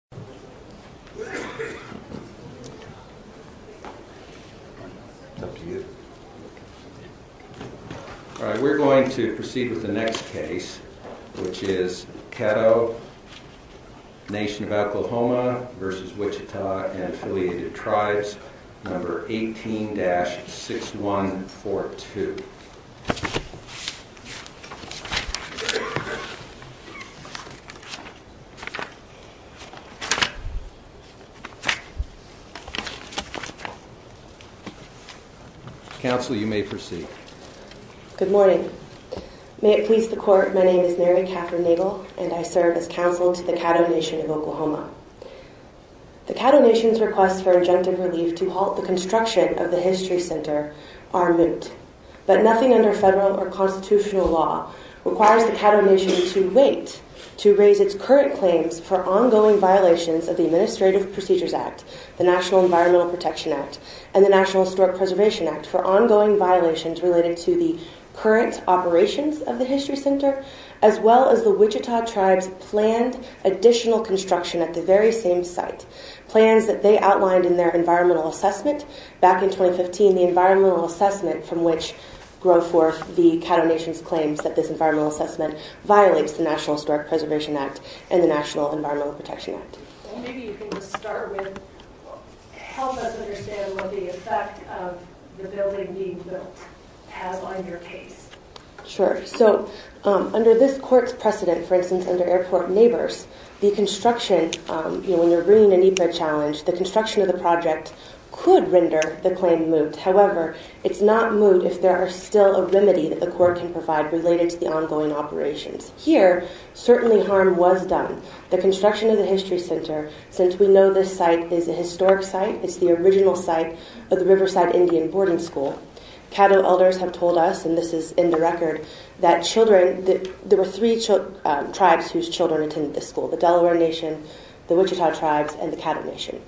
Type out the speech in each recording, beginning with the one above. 18-6142 Good morning. May it please the Court, my name is Mary Katherine Nagel and I serve as counsel to the Caddo Nation of Oklahoma. The Caddo Nation's requests for injunctive relief to halt the construction of the History Center are moot. But nothing under federal or constitutional law requires the Caddo Nation to wait to raise its current claims for ongoing violations of the Administrative Procedures Act, the National Environmental Protection Act, and the National Historic Preservation Act for ongoing violations related to the current operations of the History Center, as well as the Wichita Tribe's planned additional construction at the very same site. Plans that they outlined in their environmental assessment back in 2015, the environmental assessment from which grow forth the Caddo Nation's claims that this environmental assessment violates the National Historic Preservation Act and the National Environmental Protection Act. Maybe you can just start with, help us understand what the effect of the building being built has on your case. Sure. So, under this Court's precedent, for instance, under Airport Neighbors, the construction, you know, when you're bringing in a need for a challenge, the construction of the project could render the claim moot. However, it's not moot if there are still a remedy that the Court can provide related to the ongoing operations. Here, certainly harm was done. The construction of the History Center, since we know this site is a historic site, it's the original site of the Riverside Indian Boarding School, Caddo elders have told us, and this is in the record, that there were three tribes whose children attended this school, the Delaware Nation, the Wichita Tribes, and the Caddo Nation.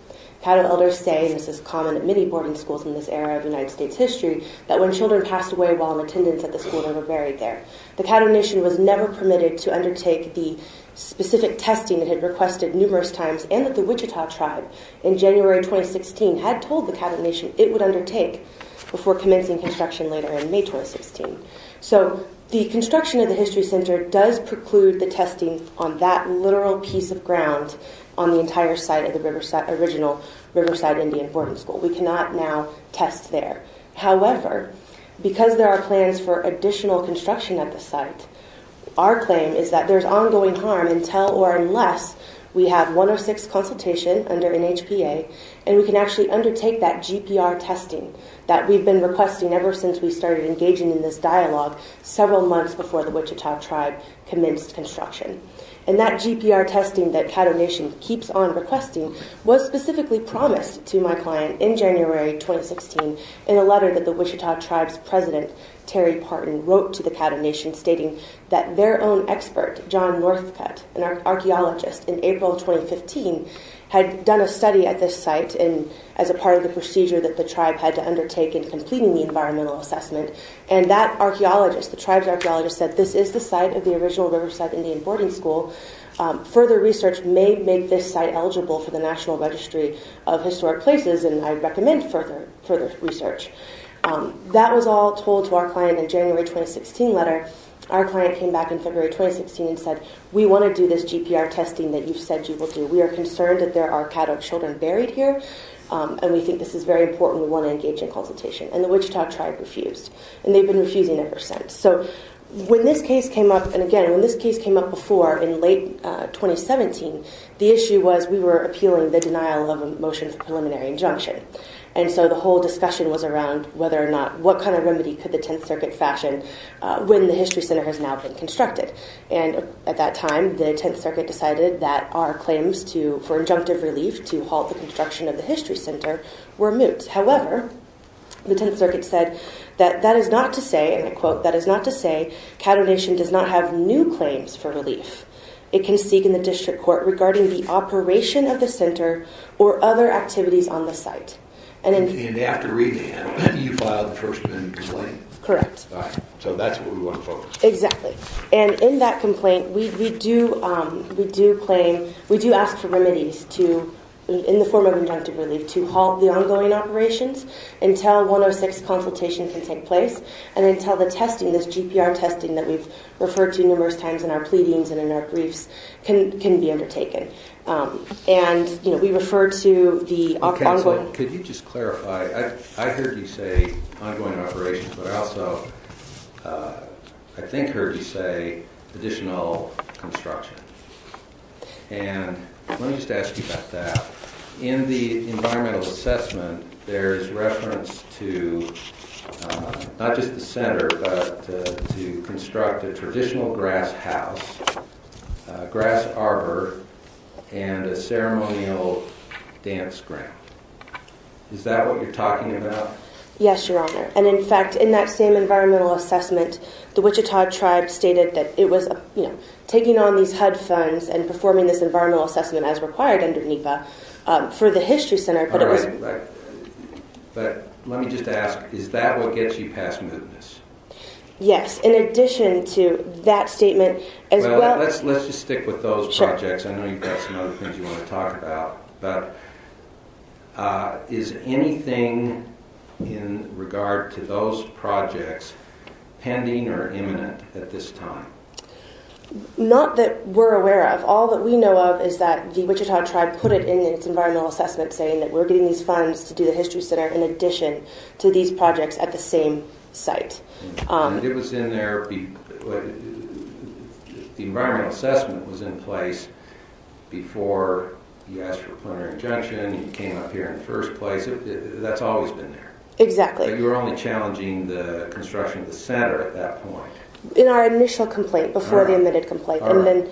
Caddo elders say, and this is common at many boarding schools in this era of United States history, that when children passed away while in attendance at the school, they were buried there. The Caddo Nation was never permitted to undertake the specific testing it had requested numerous times, and that the Wichita Tribe, in January 2016, had told the Caddo Nation it would undertake before commencing construction later in May 2016. So, the construction of the History Center does preclude the testing on that literal piece of ground on the entire site of the original Riverside Indian Boarding School. We cannot now test there. However, because there are plans for additional construction of the site, our claim is that there's ongoing harm until or unless we have one or six consultations under NHPA, and we can actually undertake that GPR testing that we've been requesting ever since we started engaging in this dialogue several months before the Wichita Tribe commenced construction. And that GPR testing that Caddo Nation keeps on requesting was specifically promised to my client in January 2016 in a letter that the Wichita Tribe's president, Terry Parton, wrote to the Caddo Nation stating that their own expert, John Northcutt, an archaeologist, in April 2015, had done a study at this site as a part of the procedure that the tribe had to undertake in completing the environmental assessment, and that archaeologist, the tribe's archaeologist, said this is the site of the original Riverside Indian Boarding School. Further research may make this site eligible for the National Registry of Historic Places, and I'd recommend further research. That was all told to our client in a January 2016 letter. Our client came back in February 2016 and said, we want to do this GPR testing that you've said you will do. We are concerned that there are Caddo children buried here, and we think this is very important. We want to engage in consultation. And the Wichita Tribe refused, and they've been refusing ever since. So when this case came up, and again, when this case came up before in late 2017, the issue was we were appealing the denial of a motion for preliminary injunction. And so the whole discussion was around whether or not, what kind of remedy could the Tenth Circuit fashion when the History Center has now been constructed. And at that time, the Tenth Circuit decided that our claims for injunctive relief to halt the construction of the History Center were moot. However, the Tenth Circuit said that that is not to say, and I quote, that is not to say Caddo Nation does not have new claims for relief. It can seek in the district court regarding the operation of the center or other activities on the site. And after reading that, you filed the first amendment complaint. Correct. So that's what we want to focus on. Exactly. And in that complaint, we do claim, we do ask for remedies to, in the form of injunctive relief, to halt the ongoing operations until 106 consultation can take place. And until the testing, this GPR testing that we've referred to numerous times in our pleadings and in our briefs can be undertaken. And, you know, we refer to the... Okay, so could you just clarify? I heard you say ongoing operations, but I also, I think, heard you say additional construction. And let me just ask you about that. In the environmental assessment, there's reference to not just the center, but to construct a traditional grass house, grass arbor, and a ceremonial dance ground. Is that what you're talking about? Yes, Your Honor. And in fact, in that same environmental assessment, the Wichita tribe stated that it was, you know, taking on these HUD funds and performing this environmental assessment as required under NEPA for the history center. All right. But let me just ask, is that what gets you past mootness? Yes. In addition to that statement as well... Well, let's just stick with those projects. Sure. I know you've got some other things you want to talk about. But is anything in regard to those projects pending or imminent at this time? Not that we're aware of. All that we know of is that the Wichita tribe put it in its environmental assessment saying that we're getting these funds to do the history center in addition to these projects at the same site. The environmental assessment was in place before you asked for a plenary injunction, you came up here in the first place. That's always been there. Exactly. But you were only challenging the construction of the center at that point. In our initial complaint, before the admitted complaint. All right. And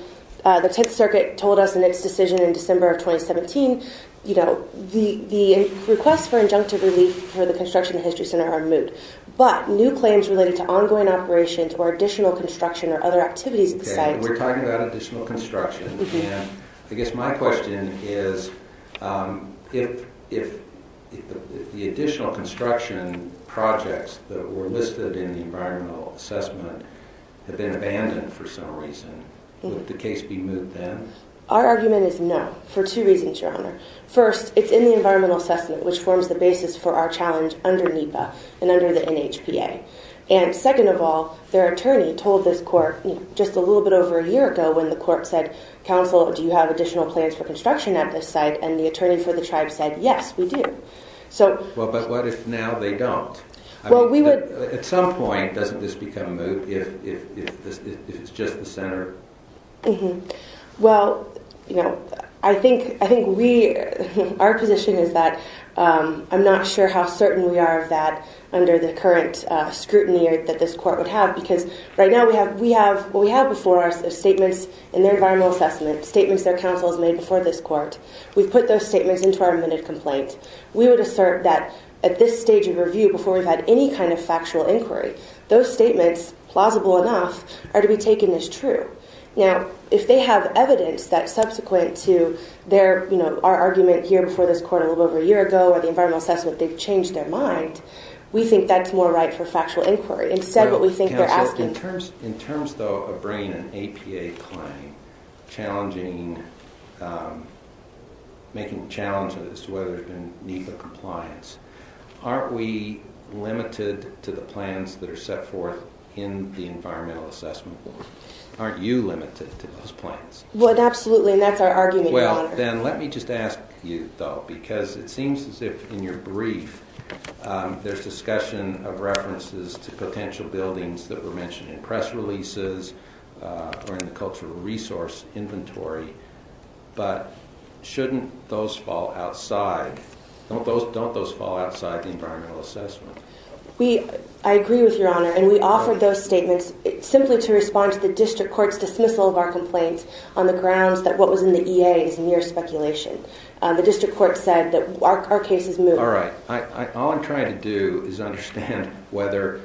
then the Tenth Circuit told us in its decision in December of 2017, you know, the requests for injunctive relief for the construction of the history center are moot. But new claims related to ongoing operations or additional construction or other activities at the site... Okay, we're talking about additional construction. And I guess my question is, if the additional construction projects that were listed in the environmental assessment have been abandoned for some reason, would the case be moot then? Our argument is no, for two reasons, Your Honor. First, it's in the environmental assessment, which forms the basis for our challenge under NEPA and under the NHPA. And second of all, their attorney told this court just a little bit over a year ago when the court said, counsel, do you have additional plans for construction at this site? And the attorney for the tribe said, yes, we do. So... Well, but what if now they don't? Well, we would... At some point, doesn't this become moot if it's just the center? Mm-hmm. Well, you know, I think we... Our position is that I'm not sure how certain we are of that under the current scrutiny that this court would have, because right now we have... What we have before us are statements in their environmental assessment, statements their counsel has made before this court. We've put those statements into our admitted complaint. We would assert that at this stage of review, before we've had any kind of factual inquiry, those statements, plausible enough, are to be taken as true. Now, if they have evidence that subsequent to their, you know, our argument here before this court a little over a year ago or the environmental assessment, they've changed their mind, we think that's more right for factual inquiry. Instead, what we think they're asking... Challenging... Making challenges to whether there's been need for compliance. Aren't we limited to the plans that are set forth in the environmental assessment board? Aren't you limited to those plans? Well, absolutely, and that's our argument here. Then let me just ask you, though, because it seems as if in your brief there's discussion of references to potential buildings that were mentioned in press releases or in the cultural resource inventory, but shouldn't those fall outside? Don't those fall outside the environmental assessment? I agree with Your Honor, and we offer those statements simply to respond to the district court's dismissal of our complaint on the grounds that what was in the EA is mere speculation. The district court said that our case is moot. All right. All I'm trying to do is understand whether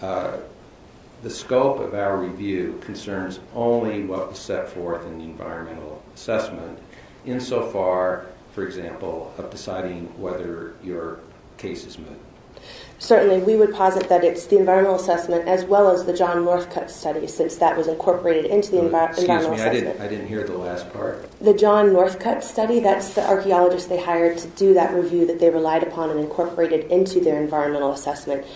the scope of our review concerns only what was set forth in the environmental assessment, insofar, for example, of deciding whether your case is moot. Certainly. We would posit that it's the environmental assessment as well as the John Northcutt study, since that was incorporated into the environmental assessment. Excuse me, I didn't hear the last part. The John Northcutt study, that's the archaeologist they hired to do that review that they relied upon and incorporated into their environmental assessment.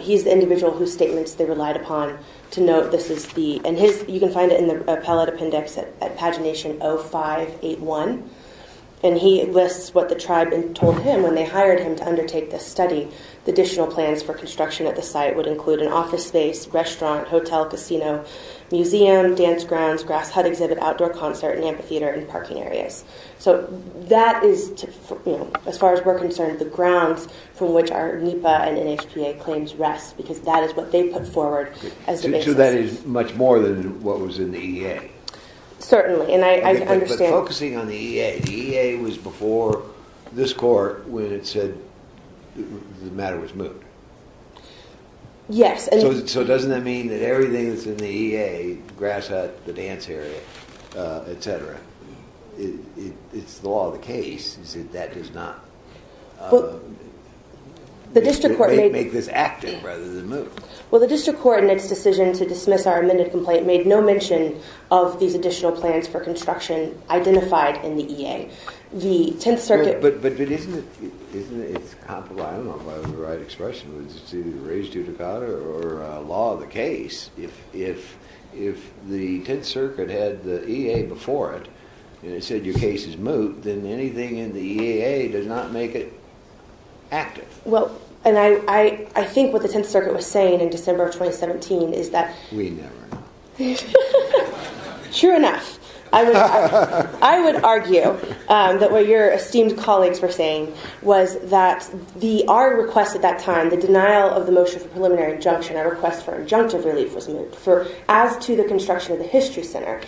He's the individual whose statements they relied upon. You can find it in the appellate appendix at pagination 0581, and he lists what the tribe told him when they hired him to undertake this study. The additional plans for construction at the site would include an office space, restaurant, hotel, casino, museum, dance grounds, grass hut exhibit, outdoor concert, and amphitheater and parking areas. So that is, as far as we're concerned, the grounds from which our NEPA and NHPA claims rest, because that is what they put forward as the basis. So that is much more than what was in the EA? Certainly, and I understand... I'm focusing on the EA. The EA was before this court when it said the matter was moved. Yes, and... So doesn't that mean that everything that's in the EA, grass hut, the dance area, etc., it's the law of the case, is that that does not make this active rather than move? Well, the district court, in its decision to dismiss our amended complaint, made no mention of these additional plans for construction identified in the EA. The Tenth Circuit... But isn't it... I don't know if I have the right expression. Is it to raise due to God or law of the case? If the Tenth Circuit had the EA before it and it said your case is moved, then anything in the EA does not make it active. Well, and I think what the Tenth Circuit was saying in December of 2017 is that... We never know. Sure enough. I would argue that what your esteemed colleagues were saying was that our request at that time, the denial of the motion for preliminary injunction, our request for injunctive relief was moved as to the construction of the History Center.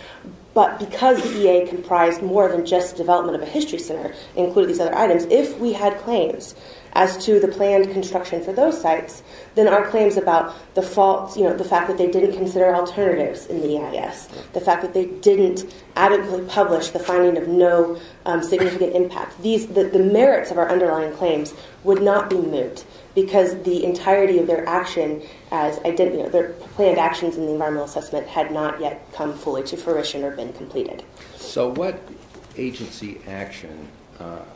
But because the EA comprised more than just development of a History Center, including these other items, if we had claims as to the planned construction for those sites, then our claims about the fault... You know, the fact that they didn't consider alternatives in the EIS, the fact that they didn't adequately publish the finding of no significant impact. These... The merits of our underlying claims would not be moved because the entirety of their action as... Their planned actions in the environmental assessment had not yet come fully to fruition or been completed. So what agency action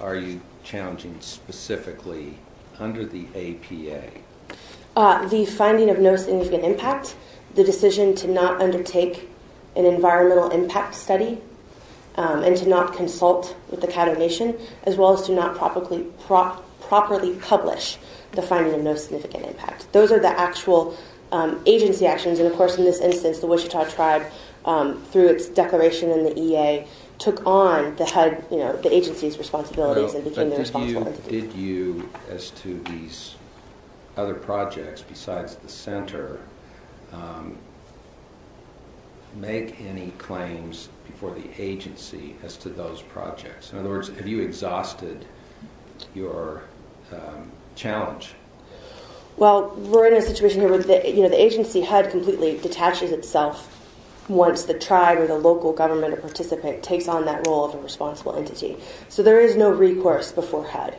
are you challenging specifically under the APA? The finding of no significant impact, the decision to not undertake an environmental impact study and to not consult with the Cato Nation, as well as to not properly publish the finding of no significant impact. Those are the actual agency actions. And of course, in this instance, the Wichita tribe, through its declaration in the EA, took on the head... You know, the agency's responsibilities and became the responsible entity. Did you, as to these other projects besides the Center, make any claims before the agency as to those projects? In other words, have you exhausted your challenge? Well, we're in a situation here with the... You know, the agency HUD completely detaches itself once the tribe or the local government or participant takes on that role of a responsible entity. So there is no recourse before HUD.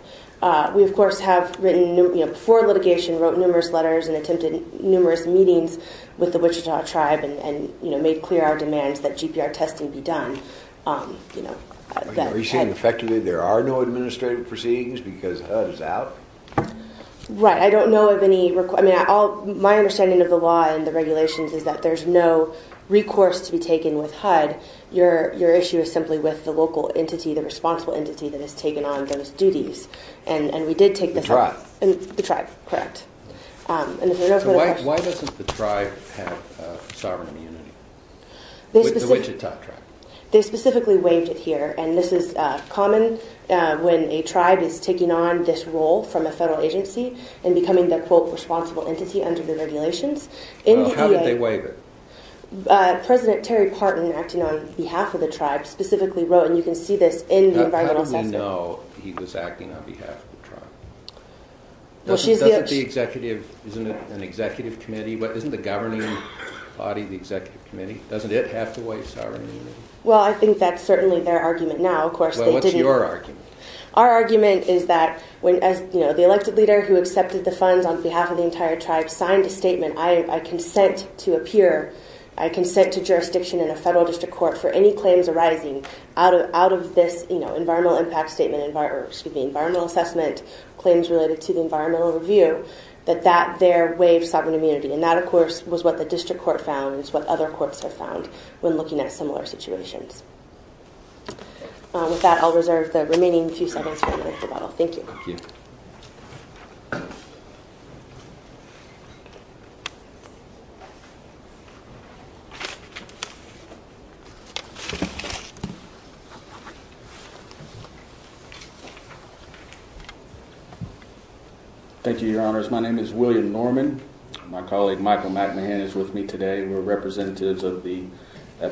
We, of course, have written... You know, before litigation, wrote numerous letters and attempted numerous meetings with the Wichita tribe and, you know, made clear our demands that GPR testing be done. Are you saying, effectively, there are no administrative proceedings because HUD is out? Right. I don't know of any... I mean, my understanding of the law and the regulations is that there's no recourse to be taken with HUD. Your issue is simply with the local entity, the responsible entity that has taken on those duties. And we did take this... The tribe? The tribe, correct. And if there are no further questions... Why doesn't the tribe have sovereign immunity? The specific... The Wichita tribe. They specifically waived it here. And this is common when a tribe is taking on this role from a federal agency and becoming the, quote, responsible entity under the regulations. Well, how did they waive it? President Terry Parton, acting on behalf of the tribe, specifically wrote, and you can see this in the environmental... How do we know he was acting on behalf of the tribe? Well, she's the... Well, I think that's certainly their argument now. Of course, they didn't... Well, what's your argument? Our argument is that when, you know, the elected leader who accepted the funds on behalf of the entire tribe signed a statement, I consent to appear, I consent to jurisdiction in a federal district court for any claims arising out of this, you know, environmental impact statement, excuse me, environmental assessment, claims related to the environmental review, that that there waived sovereign immunity. And that, of course, was what the district court found, is what other courts have found when looking at similar situations. With that, I'll reserve the remaining few seconds for a minute of rebuttal. Thank you. Thank you. Thank you, Your Honors. My name is William Norman. My colleague, Michael McMahon, is with me today. We're representatives of the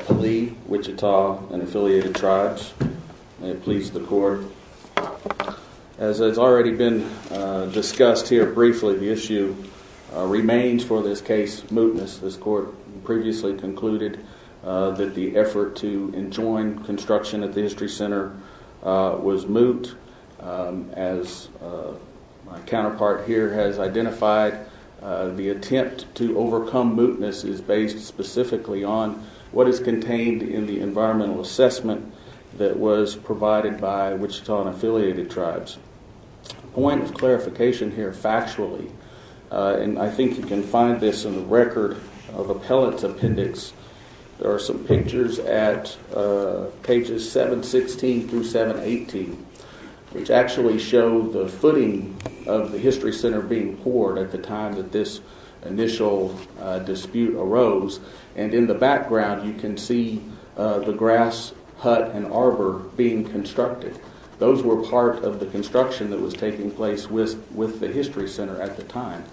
Pali, Wichita, and affiliated tribes. May it please the court. As has already been discussed here briefly, the issue remains for this case, mootness. This court previously concluded that the effort to enjoin construction at the History Center was moot. As my counterpart here has identified, the attempt to overcome mootness is based specifically on what is contained in the environmental assessment that was provided by Wichita and affiliated tribes. A point of clarification here factually, and I think you can find this in the record of appellate's appendix, there are some pictures at pages 716 through 718, which actually show the footing of the History Center being poured at the time that this initial dispute arose. In the background, you can see the grass hut and arbor being constructed. Those were part of the construction that was taking place with the History Center at the time.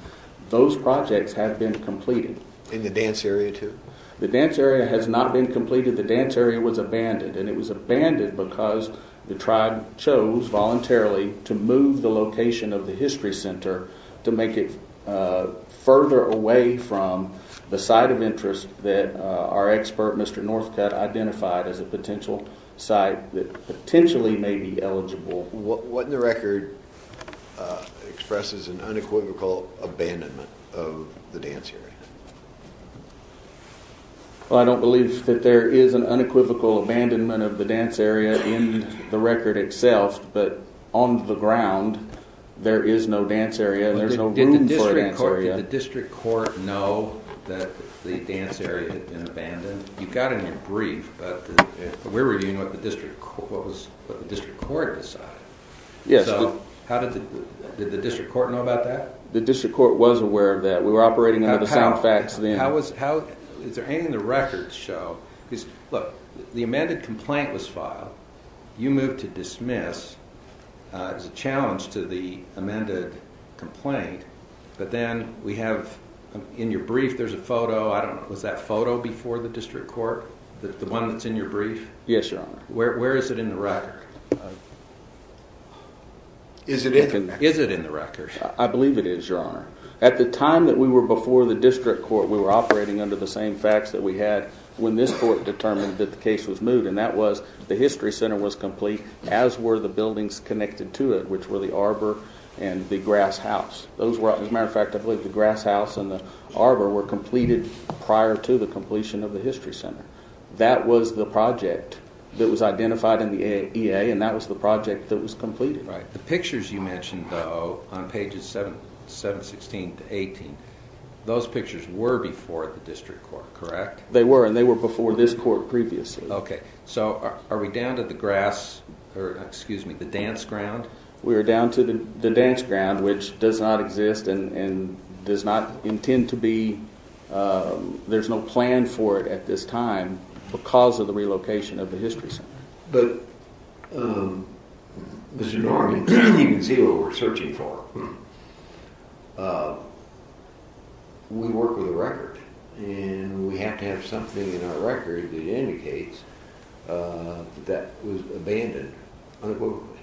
Those projects have been completed. And the dance area, too? The dance area has not been completed. The dance area was abandoned, and it was abandoned because the tribe chose voluntarily to move the location of the History Center to make it further away from the site of interest that our expert, Mr. Northcutt, identified as a potential site that potentially may be eligible. What in the record expresses an unequivocal abandonment of the dance area? I don't believe that there is an unequivocal abandonment of the dance area in the record itself, but on the ground, there is no dance area. There's no room for a dance area. Did the district court know that the dance area had been abandoned? You got in your brief, but we're reviewing what the district court decided. Did the district court know about that? The district court was aware of that. We were operating under the sound facts then. The amended complaint was filed. You moved to dismiss. It was a challenge to the amended complaint. In your brief, there's a photo. Was that photo before the district court, the one that's in your brief? Yes, Your Honor. Where is it in the record? Is it in the record? I believe it is, Your Honor. At the time that we were before the district court, we were operating under the same facts that we had when this court determined that the case was moved, and that was the history center was complete, as were the buildings connected to it, which were the arbor and the grass house. As a matter of fact, I believe the grass house and the arbor were completed prior to the completion of the history center. That was the project that was identified in the EA, and that was the project that was completed. The pictures you mentioned, though, on pages 716 to 718, those pictures were before the district court, correct? They were, and they were before this court previously. Are we down to the dance ground? We are down to the dance ground, which does not exist and does not intend to be. There's no plan for it at this time because of the relocation of the history center. But, Mr. Norton, you can see what we're searching for. We work with a record, and we have to have something in our record that indicates that that was abandoned unequivocally,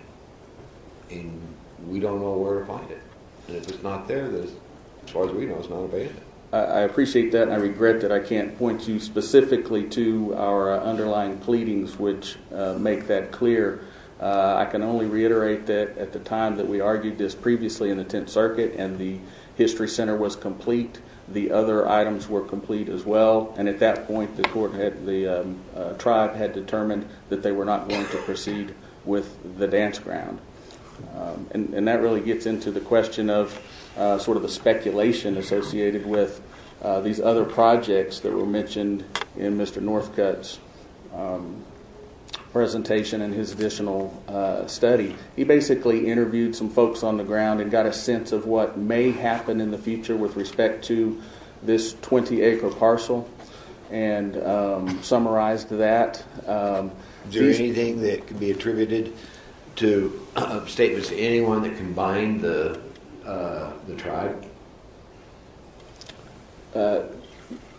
and we don't know where to find it. If it's not there, as far as we know, it's not abandoned. I appreciate that, and I regret that I can't point you specifically to our underlying pleadings which make that clear. I can only reiterate that at the time that we argued this previously in the Tenth Circuit and the history center was complete, the other items were complete as well, and at that point the tribe had determined that they were not going to proceed with the dance ground. And that really gets into the question of sort of the speculation associated with these other projects that were mentioned in Mr. Northcutt's presentation and his additional study. He basically interviewed some folks on the ground and got a sense of what may happen in the future with respect to this 20-acre parcel and summarized that. Is there anything that can be attributed to statements to anyone that can bind the tribe?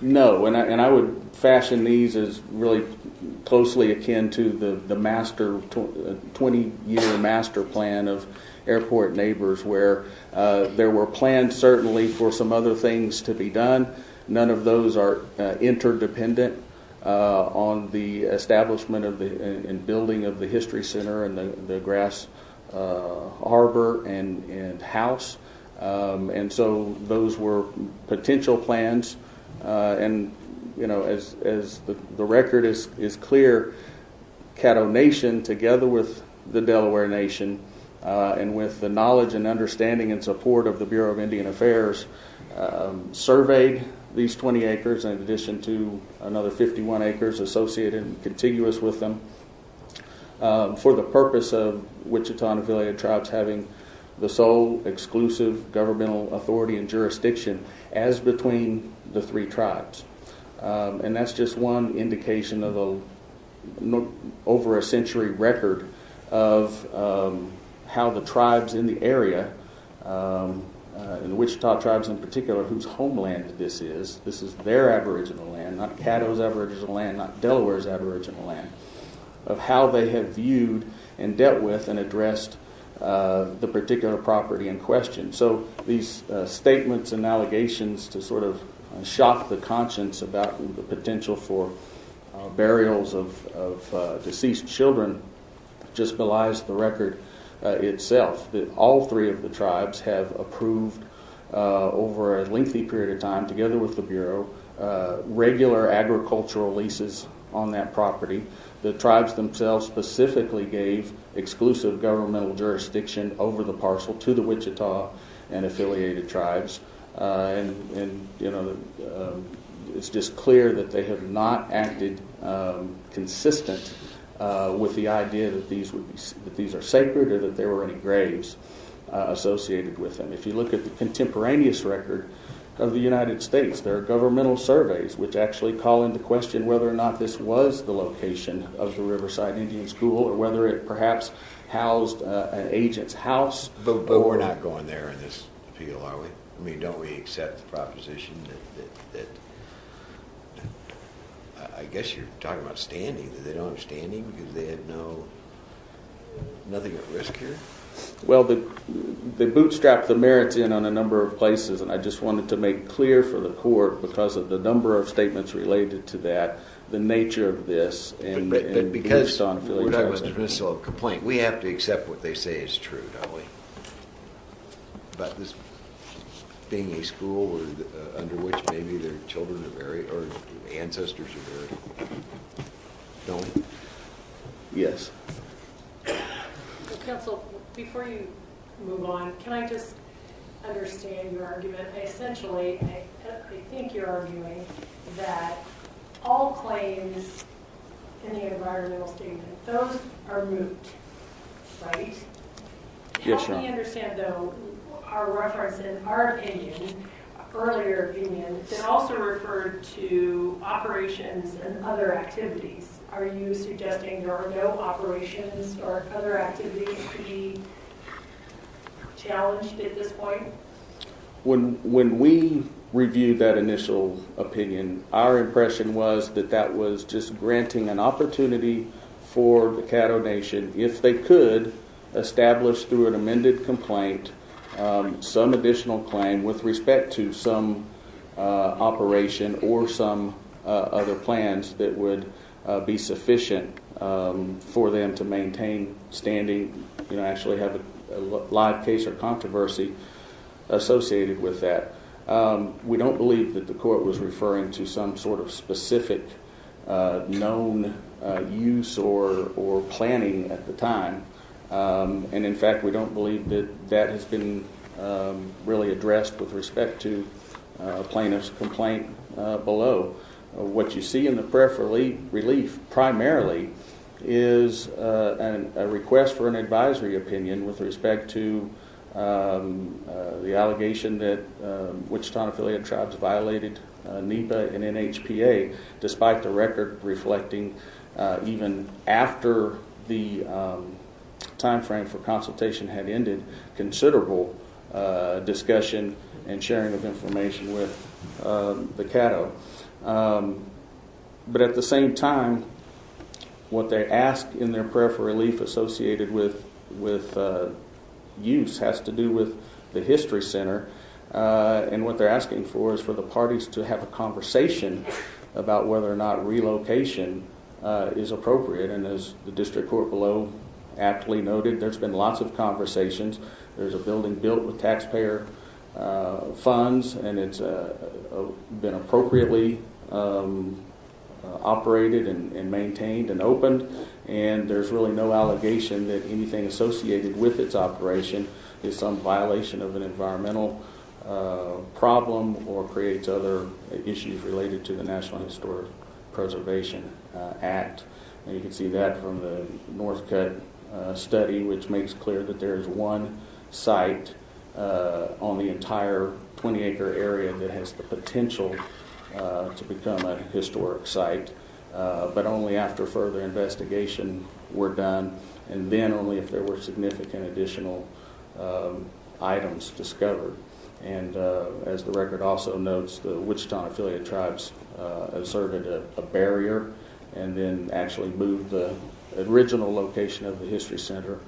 No, and I would fashion these as really closely akin to the 20-year master plan of Airport Neighbors where there were plans certainly for some other things to be done. None of those are interdependent on the establishment and building of the history center and the grass harbor and house, and so those were potential plans. And as the record is clear, Caddo Nation together with the Delaware Nation and with the knowledge and understanding and support of the Bureau of Indian Affairs surveyed these 20 acres in addition to another 51 acres associated and contiguous with them for the purpose of Wichita and Affiliated Tribes having the sole exclusive governmental authority and jurisdiction. And that's just one indication of over a century record of how the tribes in the area, the Wichita tribes in particular whose homeland this is, this is their aboriginal land, not Caddo's aboriginal land, not Delaware's aboriginal land, of how they have viewed and dealt with and addressed the particular property in question. So these statements and allegations to sort of shock the conscience about the potential for burials of deceased children just belies the record itself that all three of the tribes have approved over a lengthy period of time together with the Bureau regular agricultural leases on that property. The tribes themselves specifically gave exclusive governmental jurisdiction over the parcel to the Wichita and Affiliated Tribes and it's just clear that they have not acted consistent with the idea that these are sacred or that there were any graves associated with them. If you look at the contemporaneous record of the United States there are governmental surveys which actually call into question whether or not this was the location of the Riverside Indian School or whether it perhaps housed an agent's house. But we're not going there in this appeal are we? I mean don't we accept the proposition that, I guess you're talking about standing, they don't have standing because they had nothing at risk here? Well they bootstrapped the merits in on a number of places and I just wanted to make clear for the court because of the number of statements related to that, the nature of this and based on Affiliated Tribes. We have to accept what they say is true don't we? About this being a school under which maybe their children are buried or ancestors are buried. Yes. Counsel, before you move on, can I just understand your argument? Essentially, I think you're arguing that all claims in the environmental statement, those are moot, right? Yes. As far as we understand though, our reference in our opinion, earlier opinion, it also referred to operations and other activities. Are you suggesting there are no operations or other activities to be challenged at this point? When we reviewed that initial opinion, our impression was that that was just granting an opportunity for the Caddo Nation, if they could, establish through an amended complaint, some additional claim with respect to some operation or some other plans that would be sufficient for them to maintain standing and actually have a live case or controversy. We don't believe that the court was referring to some sort of specific known use or planning at the time and in fact we don't believe that that has been really addressed with respect to plaintiff's complaint below. What you see in the prayer for relief primarily is a request for an advisory opinion with respect to the allegation that Wichita-affiliated tribes violated NEPA and NHPA, despite the record reflecting even after the timeframe for consultation had ended, considerable discussion and sharing of information with the Caddo. But at the same time, what they ask in their prayer for relief associated with use has to do with the history center and what they're asking for is for the parties to have a conversation about whether or not relocation is appropriate. And as the district court below aptly noted, there's been lots of conversations. There's a building built with taxpayer funds and it's been appropriately operated and maintained and opened and there's really no allegation that anything associated with its operation is some violation of an environmental problem or creates other issues related to the National Historic Preservation Act. And you can see that from the Northcutt study, which makes clear that there is one site on the entire 20-acre area that has the potential to become a historic site, but only after further investigation were done and then only if there were significant additional items discovered. And as the record also notes, the Wichita-affiliated tribes asserted a barrier and then actually moved the original location of the history center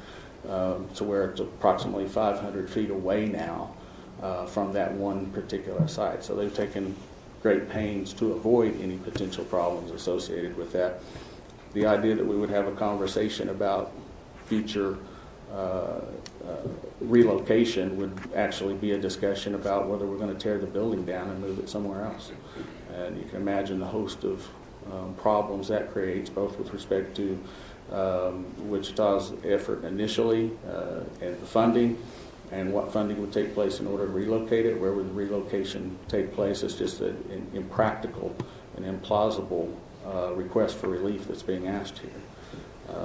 to where it's approximately 500 feet away now from that one particular site. So they've taken great pains to avoid any potential problems associated with that. The idea that we would have a conversation about future relocation would actually be a discussion about whether we're going to tear the building down and move it somewhere else. And you can imagine the host of problems that creates both with respect to Wichita's effort initially and the funding and what funding would take place in order to relocate it, where would the relocation take place. It's just an impractical and implausible request for relief that's being asked here.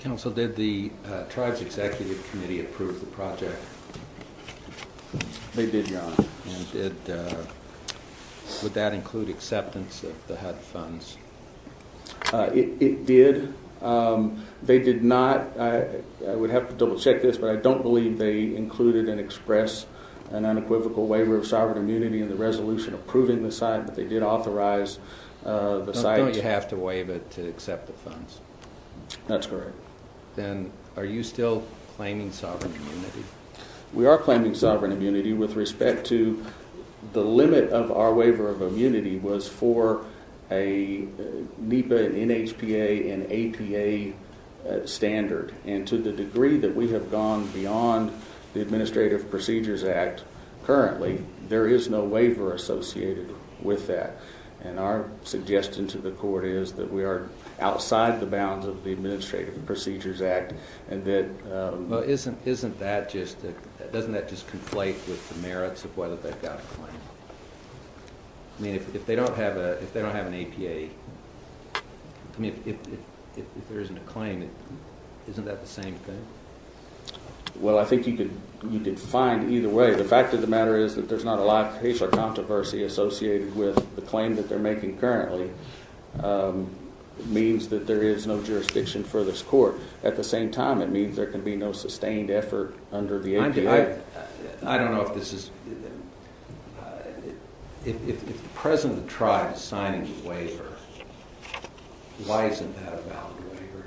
Counsel, did the tribes executive committee approve the project? They did, Your Honor. Would that include acceptance of the HUD funds? It did. They did not. I would have to double check this, but I don't believe they included and expressed an unequivocal waiver of sovereign immunity in the resolution approving the site, but they did authorize the site. Don't you have to waive it to accept the funds? That's correct. Then are you still claiming sovereign immunity? We are claiming sovereign immunity with respect to the limit of our waiver of immunity was for a NEPA and NHPA and APA standard. And to the degree that we have gone beyond the Administrative Procedures Act currently, there is no waiver associated with that. And our suggestion to the court is that we are outside the bounds of the Administrative Procedures Act. Doesn't that just conflate with the merits of whether they've got a claim? If they don't have an APA, if there isn't a claim, isn't that the same thing? Well, I think you could find either way. The fact of the matter is that there's not a lot of controversy associated with the claim that they're making currently. It means that there is no jurisdiction for this court. At the same time, it means there can be no sustained effort under the APA. I don't know if this is – if the President of the tribe is signing the waiver, why isn't that a valid waiver?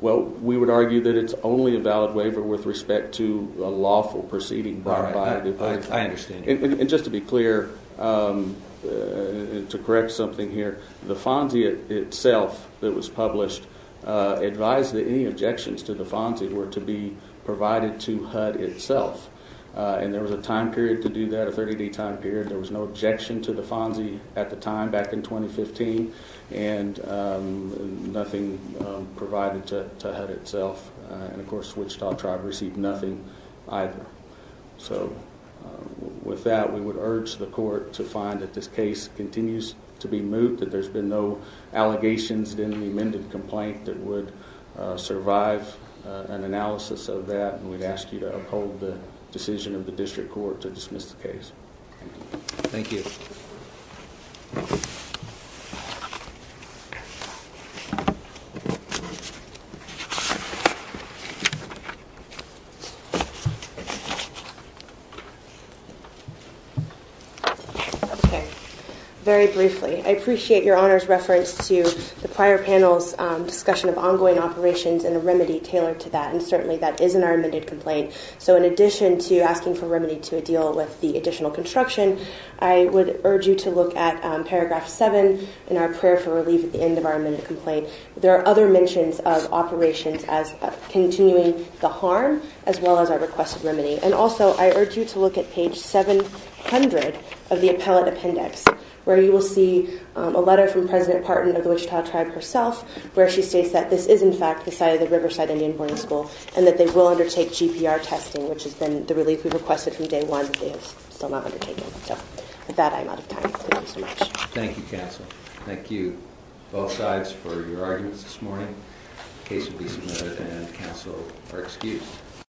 Well, we would argue that it's only a valid waiver with respect to a lawful proceeding. I understand. And just to be clear, to correct something here, the FONSI itself that was published advised that any objections to the FONSI were to be provided to HUD itself. And there was a time period to do that, a 30-day time period. There was no objection to the FONSI at the time, back in 2015, and nothing provided to HUD itself. And, of course, the Wichita tribe received nothing either. So, with that, we would urge the court to find that this case continues to be moved, that there's been no allegations in the amended complaint that would survive an analysis of that. And we'd ask you to uphold the decision of the district court to dismiss the case. Thank you. Okay. Very briefly, I appreciate Your Honor's reference to the prior panel's discussion of ongoing operations and a remedy tailored to that, and certainly that is in our amended complaint. So in addition to asking for remedy to a deal with the additional construction, I would urge you to look at paragraph 7 in our prayer for relief at the end of our amended complaint. There are other mentions of operations as continuing the harm, as well as our request of remedy. And also, I urge you to look at page 700 of the appellate appendix, where you will see a letter from President Partin of the Wichita tribe herself, where she states that this is, in fact, the site of the Riverside Indian Boarding School, and that they will undertake GPR testing, which has been the relief we've requested from day one, but they have still not undertaken it. So, with that, I'm out of time. Thank you so much. Thank you, counsel. Thank you, both sides, for your arguments this morning. The case will be submitted, and counsel are excused.